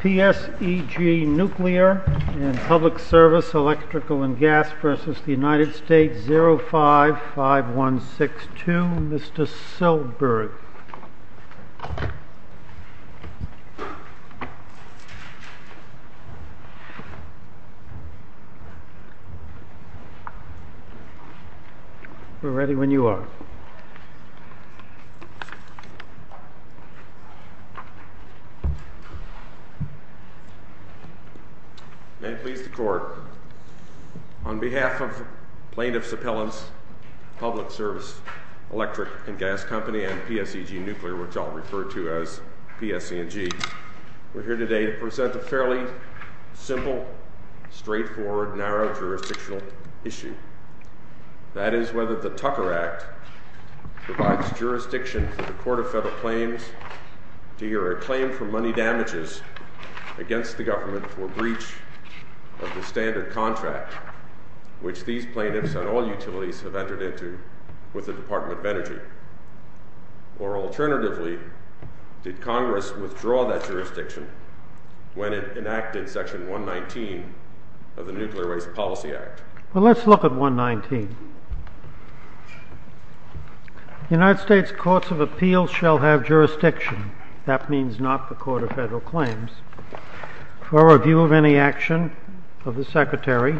Pseg Nuclear and Public Service, Electrical and Gas v. United States 055162, Mr. Silberg. May it please the Court, on behalf of Plaintiff's Appellants, Public Service, Electric and Gas Company and Pseg Nuclear, which I'll refer to as PSEG, we're here today to present a fairly simple, straightforward, narrow jurisdictional issue. That is whether the Tucker Act provides jurisdiction for the Court of Federal Claims to hear a claim for money damages against the government for breach of the standard contract, which these plaintiffs and all utilities have entered into with the Department of Energy, or alternatively, did Congress withdraw that jurisdiction when it enacted Section 119 of the Nuclear Waste Policy Act? Well, let's look at 119. The United States Courts of Appeals shall have jurisdiction. That means not the Court of Federal Claims. For review of any action of the Secretary,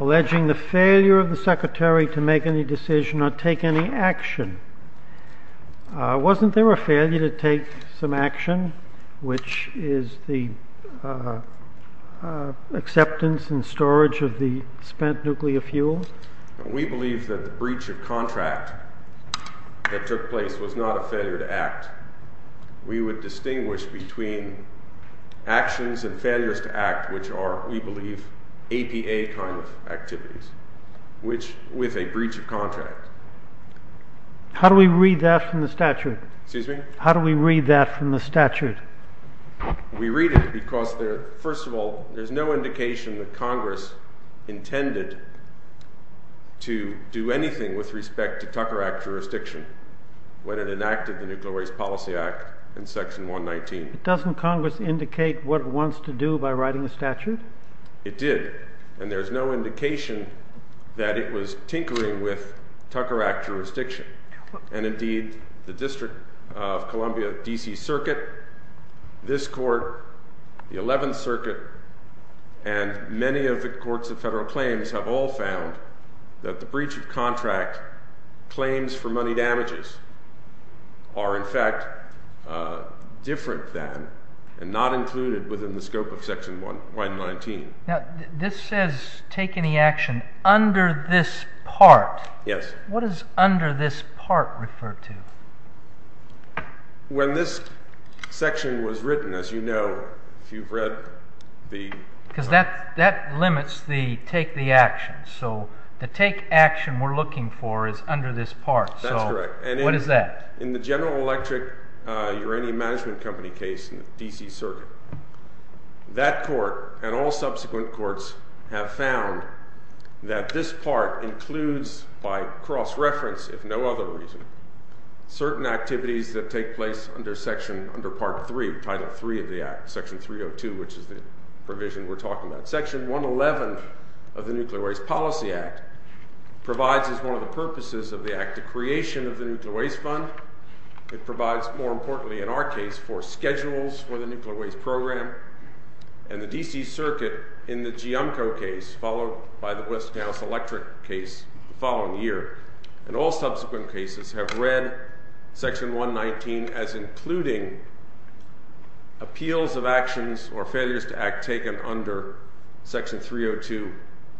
alleging the failure of the Secretary to make any decision or take any action, wasn't there a failure to take some action, which is the acceptance and storage of the spent nuclear fuel? We believe that the breach of contract that took place was not a failure to act. We would distinguish between actions and failures to act, which are, we believe, APA kind of activities with a breach of contract. How do we read that from the statute? We read it because, first of all, there's no indication that Congress intended to do Section 119. Doesn't Congress indicate what it wants to do by writing a statute? It did. And there's no indication that it was tinkering with Tucker Act jurisdiction. And indeed, the District of Columbia, D.C. Circuit, this Court, the Eleventh Circuit, and many of the Courts of Federal Claims have all found that the breach of contract claims for money damages are, in fact, different than and not included within the scope of Section 119. This says, take any action under this part. What does under this part refer to? When this section was written, as you know, if you've read the... Because that limits the take the action. So the take action we're looking for is under this part. That's correct. What is that? In the General Electric Uranium Management Company case in the D.C. Circuit, that Court and all subsequent Courts have found that this part includes, by cross-reference if no other reason, certain activities that take place under Section, under Part 3, Title 3 of the Act, Section 302, which is the provision we're talking about. Section 111 of the Nuclear Waste Policy Act provides as one of the purposes of the Act the creation of the Nuclear Waste Fund. It provides, more importantly in our case, for schedules for the nuclear waste program. And the D.C. Circuit, in the Giamco case, followed by the West Gals Electric case the following year, and all subsequent cases have read Section 119 as including appeals of actions or failures to act taken under Section 302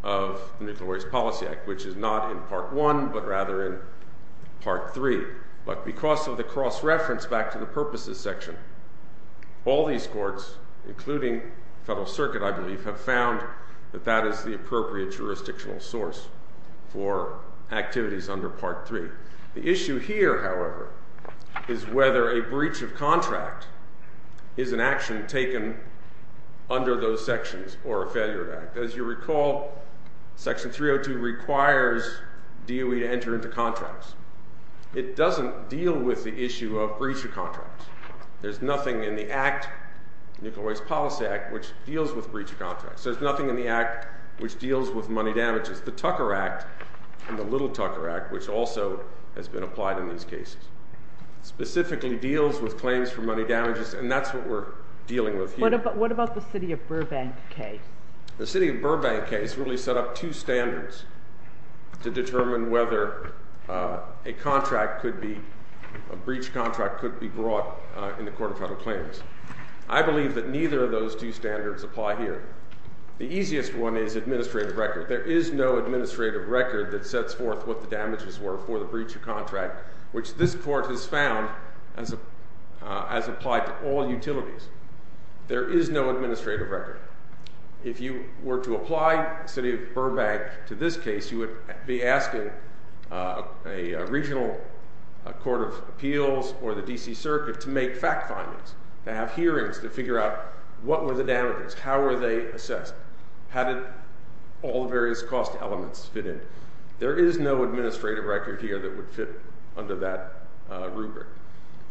of the Nuclear Waste Policy Act, which is not in Part 1, but rather in Part 3. But because of the cross-reference back to the purposes section, all these Courts, including Federal Circuit, I believe, have found that that is the appropriate jurisdictional source for activities under Part 3. The issue here, however, is whether a breach of contract is an action taken under those sections or a failure of Act. As you recall, Section 302 requires DOE to enter into contracts. It doesn't deal with the issue of breach of contracts. There's nothing in the Act, Nuclear Waste Policy Act, which deals with breach of contracts. There's nothing in the Act which deals with money damages. The Tucker Act and the Little Tucker Act, which also has been applied in these cases, specifically deals with claims for money damages, and that's what we're dealing with here. What about the City of Burbank case? The City of Burbank case really set up two standards to determine whether a contract could be, a breach of contract could be brought in the Court of Federal Claims. I believe that neither of those two standards apply here. The easiest one is administrative record. There is no administrative record that sets forth what the damages were for the breach of contract, which this Court has found as applied to all utilities. There is no administrative record. If you were to apply the City of Burbank to this case, you would be asking a regional court of appeals or the D.C. Circuit to make fact findings, to have hearings to figure out what were the damages, how were they assessed. How did all the various cost elements fit in? There is no administrative record here that would fit under that rubric.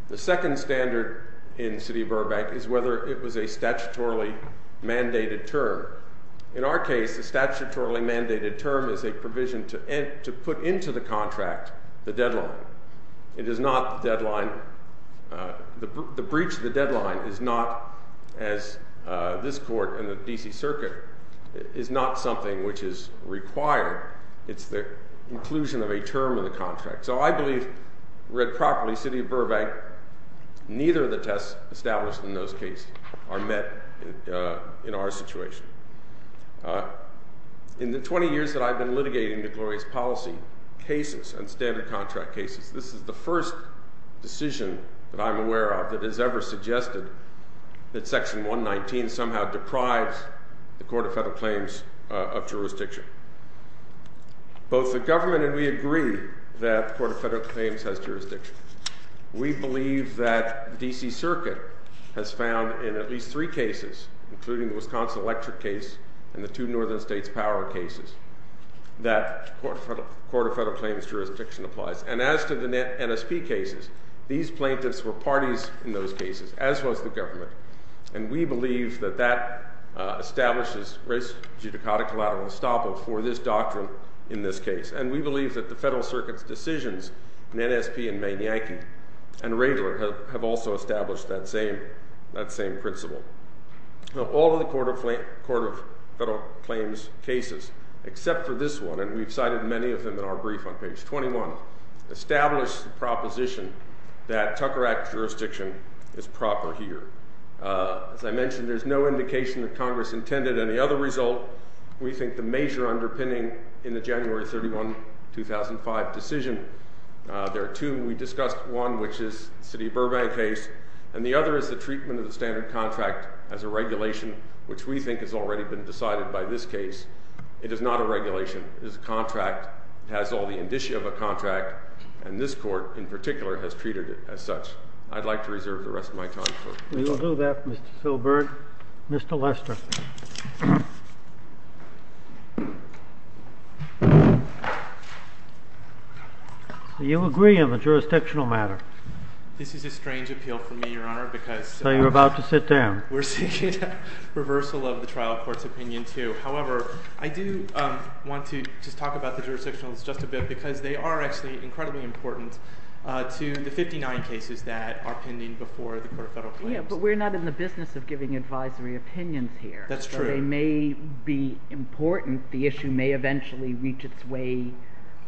The second standard in City of Burbank is whether it was a statutorily mandated term. In our case, the statutorily mandated term is a provision to put into the contract the deadline. It is not the deadline. The breach of the deadline is not, as this Court and the D.C. Circuit, is not something which is required. It's the inclusion of a term in the contract. So I believe, read properly, City of Burbank, neither of the tests established in those cases are met in our situation. In the 20 years that I've been litigating DeGloria's policy, cases and standard contract cases, this is the first decision that I'm aware of that has ever suggested that Section 119 somehow deprives the Court of Federal Claims of jurisdiction. Both the government and we agree that the Court of Federal Claims has jurisdiction. We believe that the D.C. Circuit has found in at least three cases, including the Wisconsin electric case and the two northern states power cases, that the Court of Federal Claims jurisdiction applies. And as to the NSP cases, these plaintiffs were parties in those cases, as was the government. And we believe that that establishes race judicata collateral estoppel for this doctrine in this case. And we believe that the Federal Circuit's decisions in NSP and Manianke and Radler have also established that same principle. Now, all of the Court of Federal Claims cases, except for this one, and we've cited many of them in our brief on page 21, establish the proposition that Tucker Act jurisdiction is proper here. As I mentioned, there's no indication that Congress intended any other result. We think the major underpinning in the January 31, 2005 decision, there are two. We discussed one, which is the City of Burbank case, and the other is the treatment of the standard contract as a regulation, which we think has already been decided by this case. It is not a regulation. It is a contract. It has all the indicia of a contract, and this court, in particular, has treated it as such. I'd like to reserve the rest of my time for it. We will do that, Mr. Filburn. Mr. Lester. Do you agree on the jurisdictional matter? This is a strange appeal for me, Your Honor, because- So you're about to sit down. We're seeking a reversal of the trial court's opinion, too. However, I do want to just talk about the jurisdictionals just a bit, because they are actually incredibly important to the 59 cases that are pending before the court of federal claims. Yeah, but we're not in the business of giving advisory opinions here. That's true. They may be important. The issue may eventually reach its way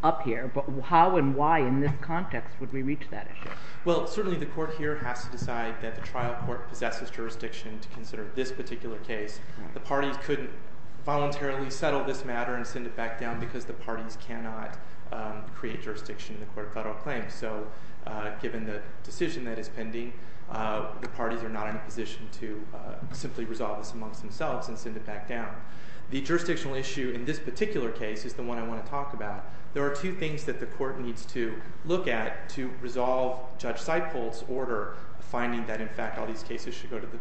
up here, but how and why in this context would I think that's a good point. I think that's a good point. I think that's a good point. I think that's a good point. One of the jurisdictions is the court possesses jurisdiction to consider this particular case. The parties couldn't voluntarily settle this matter and send it back down because the parties cannot create jurisdiction in the court of federal claims. Given the decision that is pending, the parties are not in a position to simply resolve this amongst themselves and send it back down. The jurisdictional issue in this particular case is the one I want to talk about. There are two things that the court needs to look at to resolve Judge Seipold's order finding that, in fact, all these cases should go to the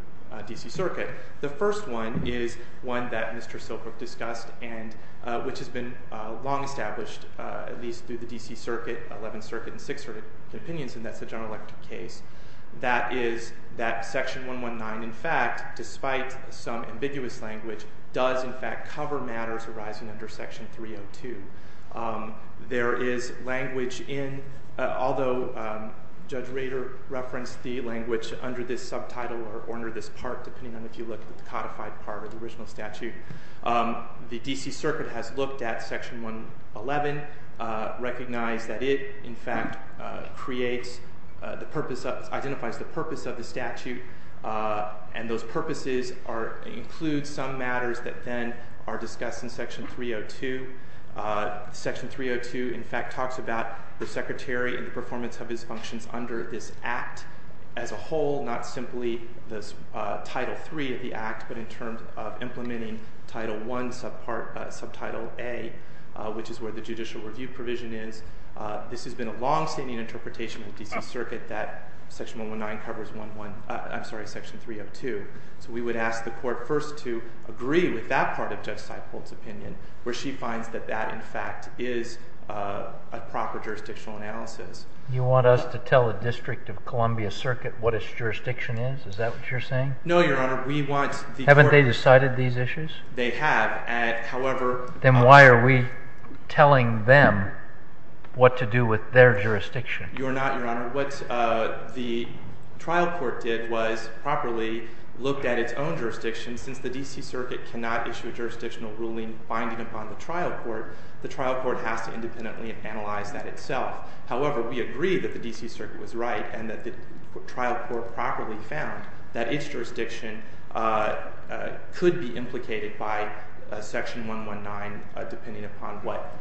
D.C. Circuit. The first one is one that Mr. Silkbrook discussed and which has been long established at least through the D.C. Circuit, Eleventh Circuit, and Sixth Circuit opinions, and that's the General Electric case. That is that Section 119, in fact, despite some ambiguous language, does, in fact, cover matters arising under Section 302. There is language in, although Judge Rader referenced the language under this subtitle or under this part, depending on if you look at the codified part of the original statute, the D.C. Circuit has looked at Section 111, recognized that it, in fact, identifies the purpose of the statute, and those purposes include some matters that then are discussed in Section 302. Section 302, in fact, talks about the Secretary and the performance of his functions under this Act as a whole, not simply the Title III of the Act, but in terms of implementing Title I, subtitle A, which is where the judicial review provision is. This has been a longstanding interpretation in the D.C. Circuit that Section 119 covers one, one, I'm sorry, Section 302, so we would ask the court first to agree with that part of Judge Seipold's opinion, where she finds that that, in fact, is a proper jurisdictional analysis. You want us to tell the District of Columbia Circuit what its jurisdiction is, is that what you're saying? No, Your Honor. We want the court- Haven't they decided these issues? They have. However- Then why are we telling them what to do with their jurisdiction? Your Honor, what the trial court did was properly look at its own jurisdiction, since the D.C. Circuit has a jurisdictional ruling binding upon the trial court, the trial court has to independently analyze that itself. However, we agree that the D.C. Circuit was right and that the trial court properly found that its jurisdiction could be implicated by Section 119, depending upon what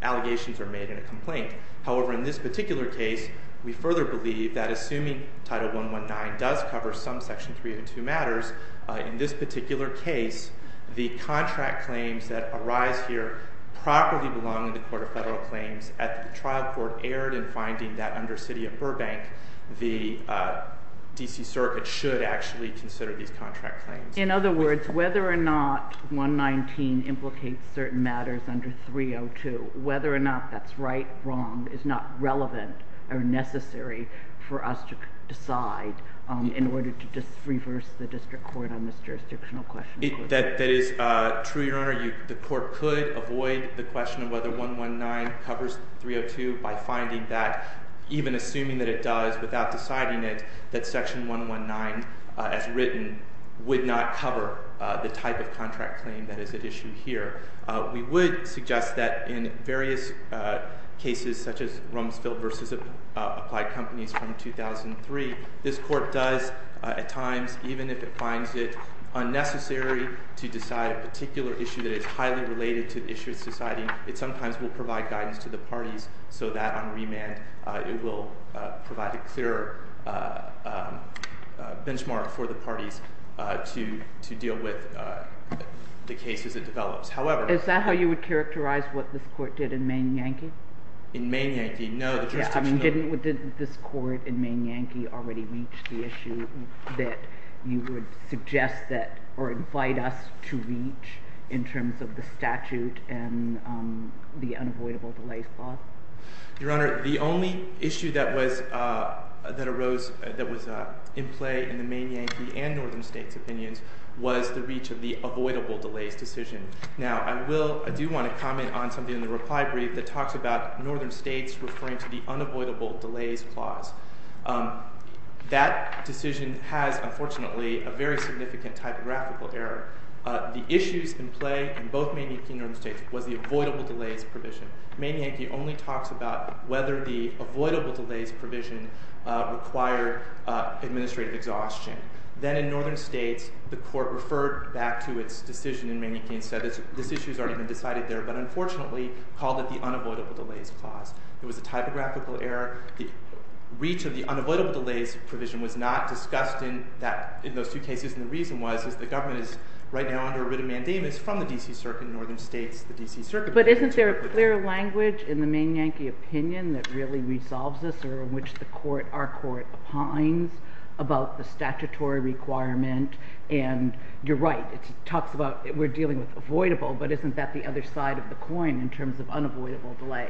allegations are made in a complaint. However, in this particular case, we further believe that assuming Title 119 does cover some Section 302 matters, in this particular case, the contract claims that arise here properly belong in the Court of Federal Claims at the trial court erred in finding that under City of Burbank, the D.C. Circuit should actually consider these contract claims. In other words, whether or not 119 implicates certain matters under 302, whether or not that's right or wrong, is not relevant or necessary for us to decide in order to just reverse the district court on this jurisdictional question. That is true, Your Honor. The court could avoid the question of whether 119 covers 302 by finding that, even assuming that it does without deciding it, that Section 119, as written, would not cover the type of contract claim that is at issue here. We would suggest that in various cases, such as Rumsfeld v. Applied Companies from 2003, this court does, at times, even if it finds it unnecessary to decide a particular issue that is highly related to the issue it's deciding, it sometimes will provide guidance to the parties so that, on remand, it will provide a clearer benchmark for the parties to deal with the cases it develops. Is that how you would characterize what this court did in Maine-Yankee? In Maine-Yankee? No. Didn't this court in Maine-Yankee already reach the issue that you would suggest that or invite us to reach in terms of the statute and the unavoidable delays clause? Your Honor, the only issue that arose, that was in play in the Maine-Yankee and Northern Now, I do want to comment on something in the reply brief that talks about Northern States referring to the unavoidable delays clause. That decision has, unfortunately, a very significant typographical error. The issues in play in both Maine-Yankee and Northern States was the avoidable delays provision. Maine-Yankee only talks about whether the avoidable delays provision required administrative exhaustion. Then, in Northern States, the court referred back to its decision in Maine-Yankee and said that this issue has already been decided there, but unfortunately, called it the unavoidable delays clause. It was a typographical error. The reach of the unavoidable delays provision was not discussed in those two cases, and the reason was that the government is, right now, under a writ of mandamus from the D.C. Circuit in Northern States. The D.C. Circuit— But isn't there a clear language in the Maine-Yankee opinion that really resolves this or in which the court, our court, opines about the statutory requirement? You're right. It talks about we're dealing with avoidable, but isn't that the other side of the coin in terms of unavoidable delay?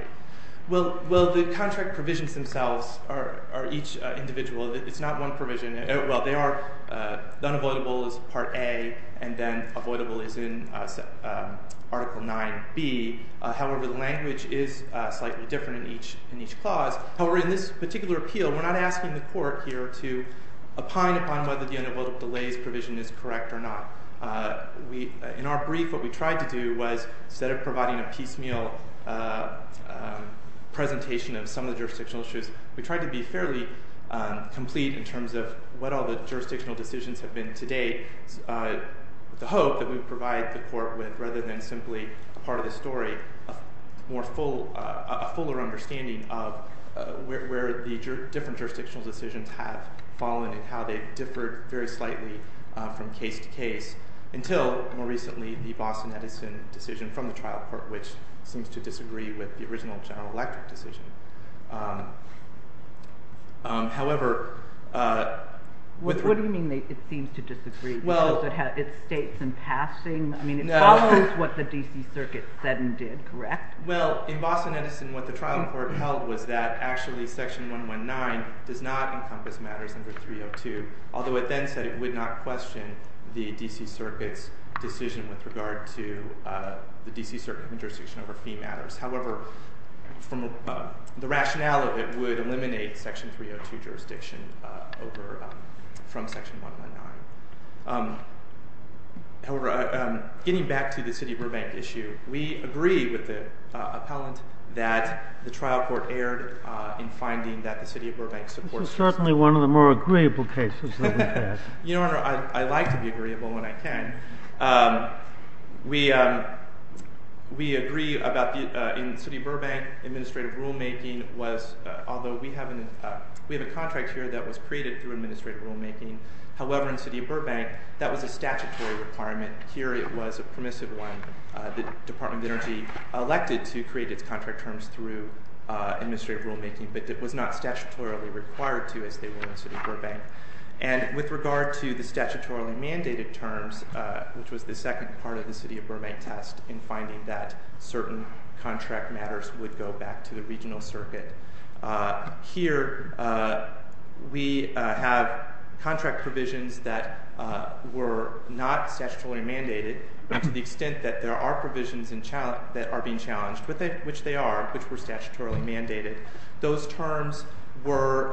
Well, the contract provisions themselves are each individual. It's not one provision. Well, they are—the unavoidable is Part A, and then avoidable is in Article 9B. However, the language is slightly different in each clause. However, in this particular appeal, we're not asking the court here to opine upon whether the unavoidable delays provision is correct or not. In our brief, what we tried to do was, instead of providing a piecemeal presentation of some of the jurisdictional issues, we tried to be fairly complete in terms of what all the jurisdictional decisions have been to date, with the hope that we would provide the court with, rather than simply a part of the story, a fuller understanding of where the different jurisdictional decisions have fallen and how they've differed very slightly from case to case until, more recently, the Boston-Edison decision from the trial court, which seems to disagree with the original General Electric decision. However— What do you mean, it seems to disagree? Does it have its states in passing? I mean, it follows what the D.C. Circuit said and did, correct? Well, in Boston-Edison, what the trial court held was that, actually, Section 119 does not encompass matters under 302, although it then said it would not question the D.C. Circuit's decision with regard to the D.C. Circuit's jurisdiction over fee matters. However, the rationale of it would eliminate Section 302 jurisdiction from Section 119. However, getting back to the City of Burbank issue, we agree with the appellant that the trial court erred in finding that the City of Burbank supports— This is certainly one of the more agreeable cases that we've had. Your Honor, I like to be agreeable when I can. We agree about the—in City of Burbank, administrative rulemaking was—although we have a contract here that was created through administrative rulemaking, however, in City of Burbank, that was a statutory requirement. Here, it was a permissive one. The Department of Energy elected to create its contract terms through administrative rulemaking, but it was not statutorily required to as they were in City of Burbank. And with regard to the statutorily mandated terms, which was the second part of the City of Burbank test in finding that certain contract matters would go back to the regional circuit, here we have contract provisions that were not statutorily mandated to the extent that there are provisions that are being challenged, which they are, which were statutorily mandated. Those terms were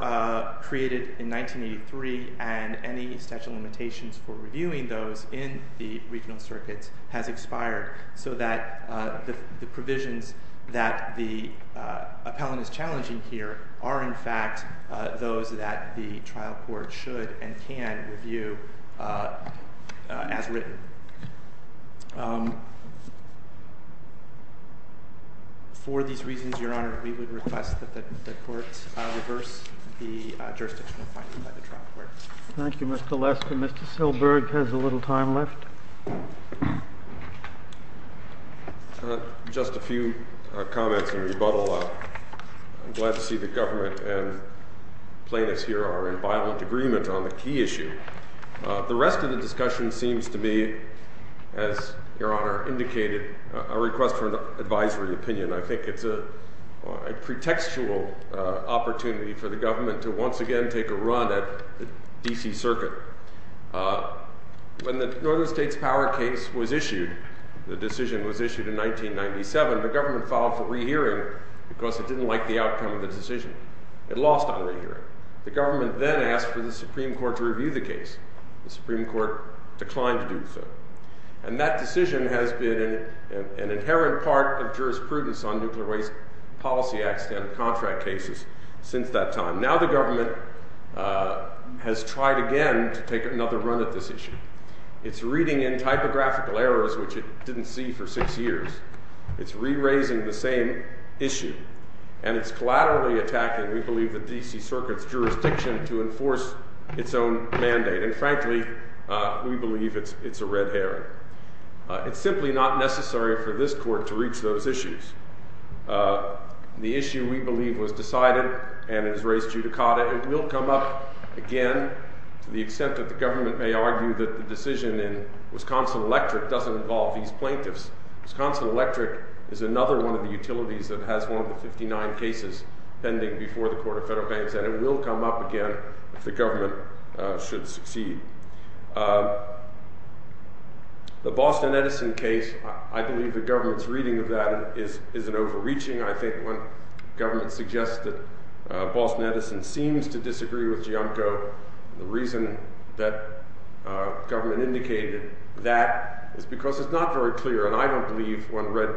created in 1983, and any statute of limitations for reviewing those in the regional circuits has expired, so that the provisions that the appellant is challenging here are, in fact, those that the trial court should and can review as written. For these reasons, Your Honor, we would request that the court reverse the jurisdictional finding by the trial court. Thank you, Mr. Lester. Mr. Silberg has a little time left. Just a few comments in rebuttal. I'm glad to see the government and plaintiffs here are in violent agreement on the key issue. The rest of the discussion seems to be, as Your Honor indicated, a request for an advisory opinion. I think it's a pretextual opportunity for the government to once again take a run at D.C. Circuit. When the Northern States Power case was issued, the decision was issued in 1997, the government filed for re-hearing because it didn't like the outcome of the decision. It lost on re-hearing. The government then asked for the Supreme Court to review the case. The Supreme Court declined to do so. And that decision has been an inherent part of jurisprudence on nuclear waste policy accident contract cases since that time. Now the government has tried again to take another run at this issue. It's reading in typographical errors, which it didn't see for six years. It's re-raising the same issue. And it's collaterally attacking, we believe, the D.C. Circuit's jurisdiction to enforce its own mandate. And frankly, we believe it's a red herring. It's simply not necessary for this court to reach those issues. And the issue, we believe, was decided and it was raised judicata. It will come up again to the extent that the government may argue that the decision in Wisconsin Electric doesn't involve these plaintiffs. Wisconsin Electric is another one of the utilities that has one of the 59 cases pending before the Court of Federal Banks. And it will come up again if the government should succeed. The Boston Edison case, I believe the government's reading of that is an overreaching. I think when government suggests that Boston Edison seems to disagree with Gianco, the reason that government indicated that is because it's not very clear. And I don't believe when read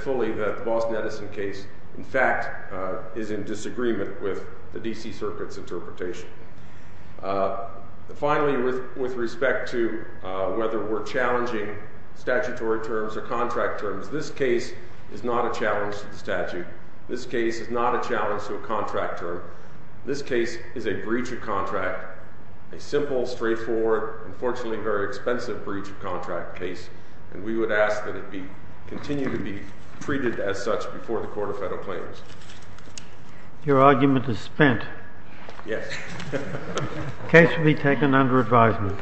fully that the Boston Edison case, in fact, is in disagreement with Gianco. Finally, with respect to whether we're challenging statutory terms or contract terms, this case is not a challenge to the statute. This case is not a challenge to a contract term. This case is a breach of contract, a simple, straightforward, unfortunately very expensive breach of contract case. And we would ask that it continue to be treated as such before the Court of Federal Claims. Your argument is spent. Yes. The case will be taken under advisement.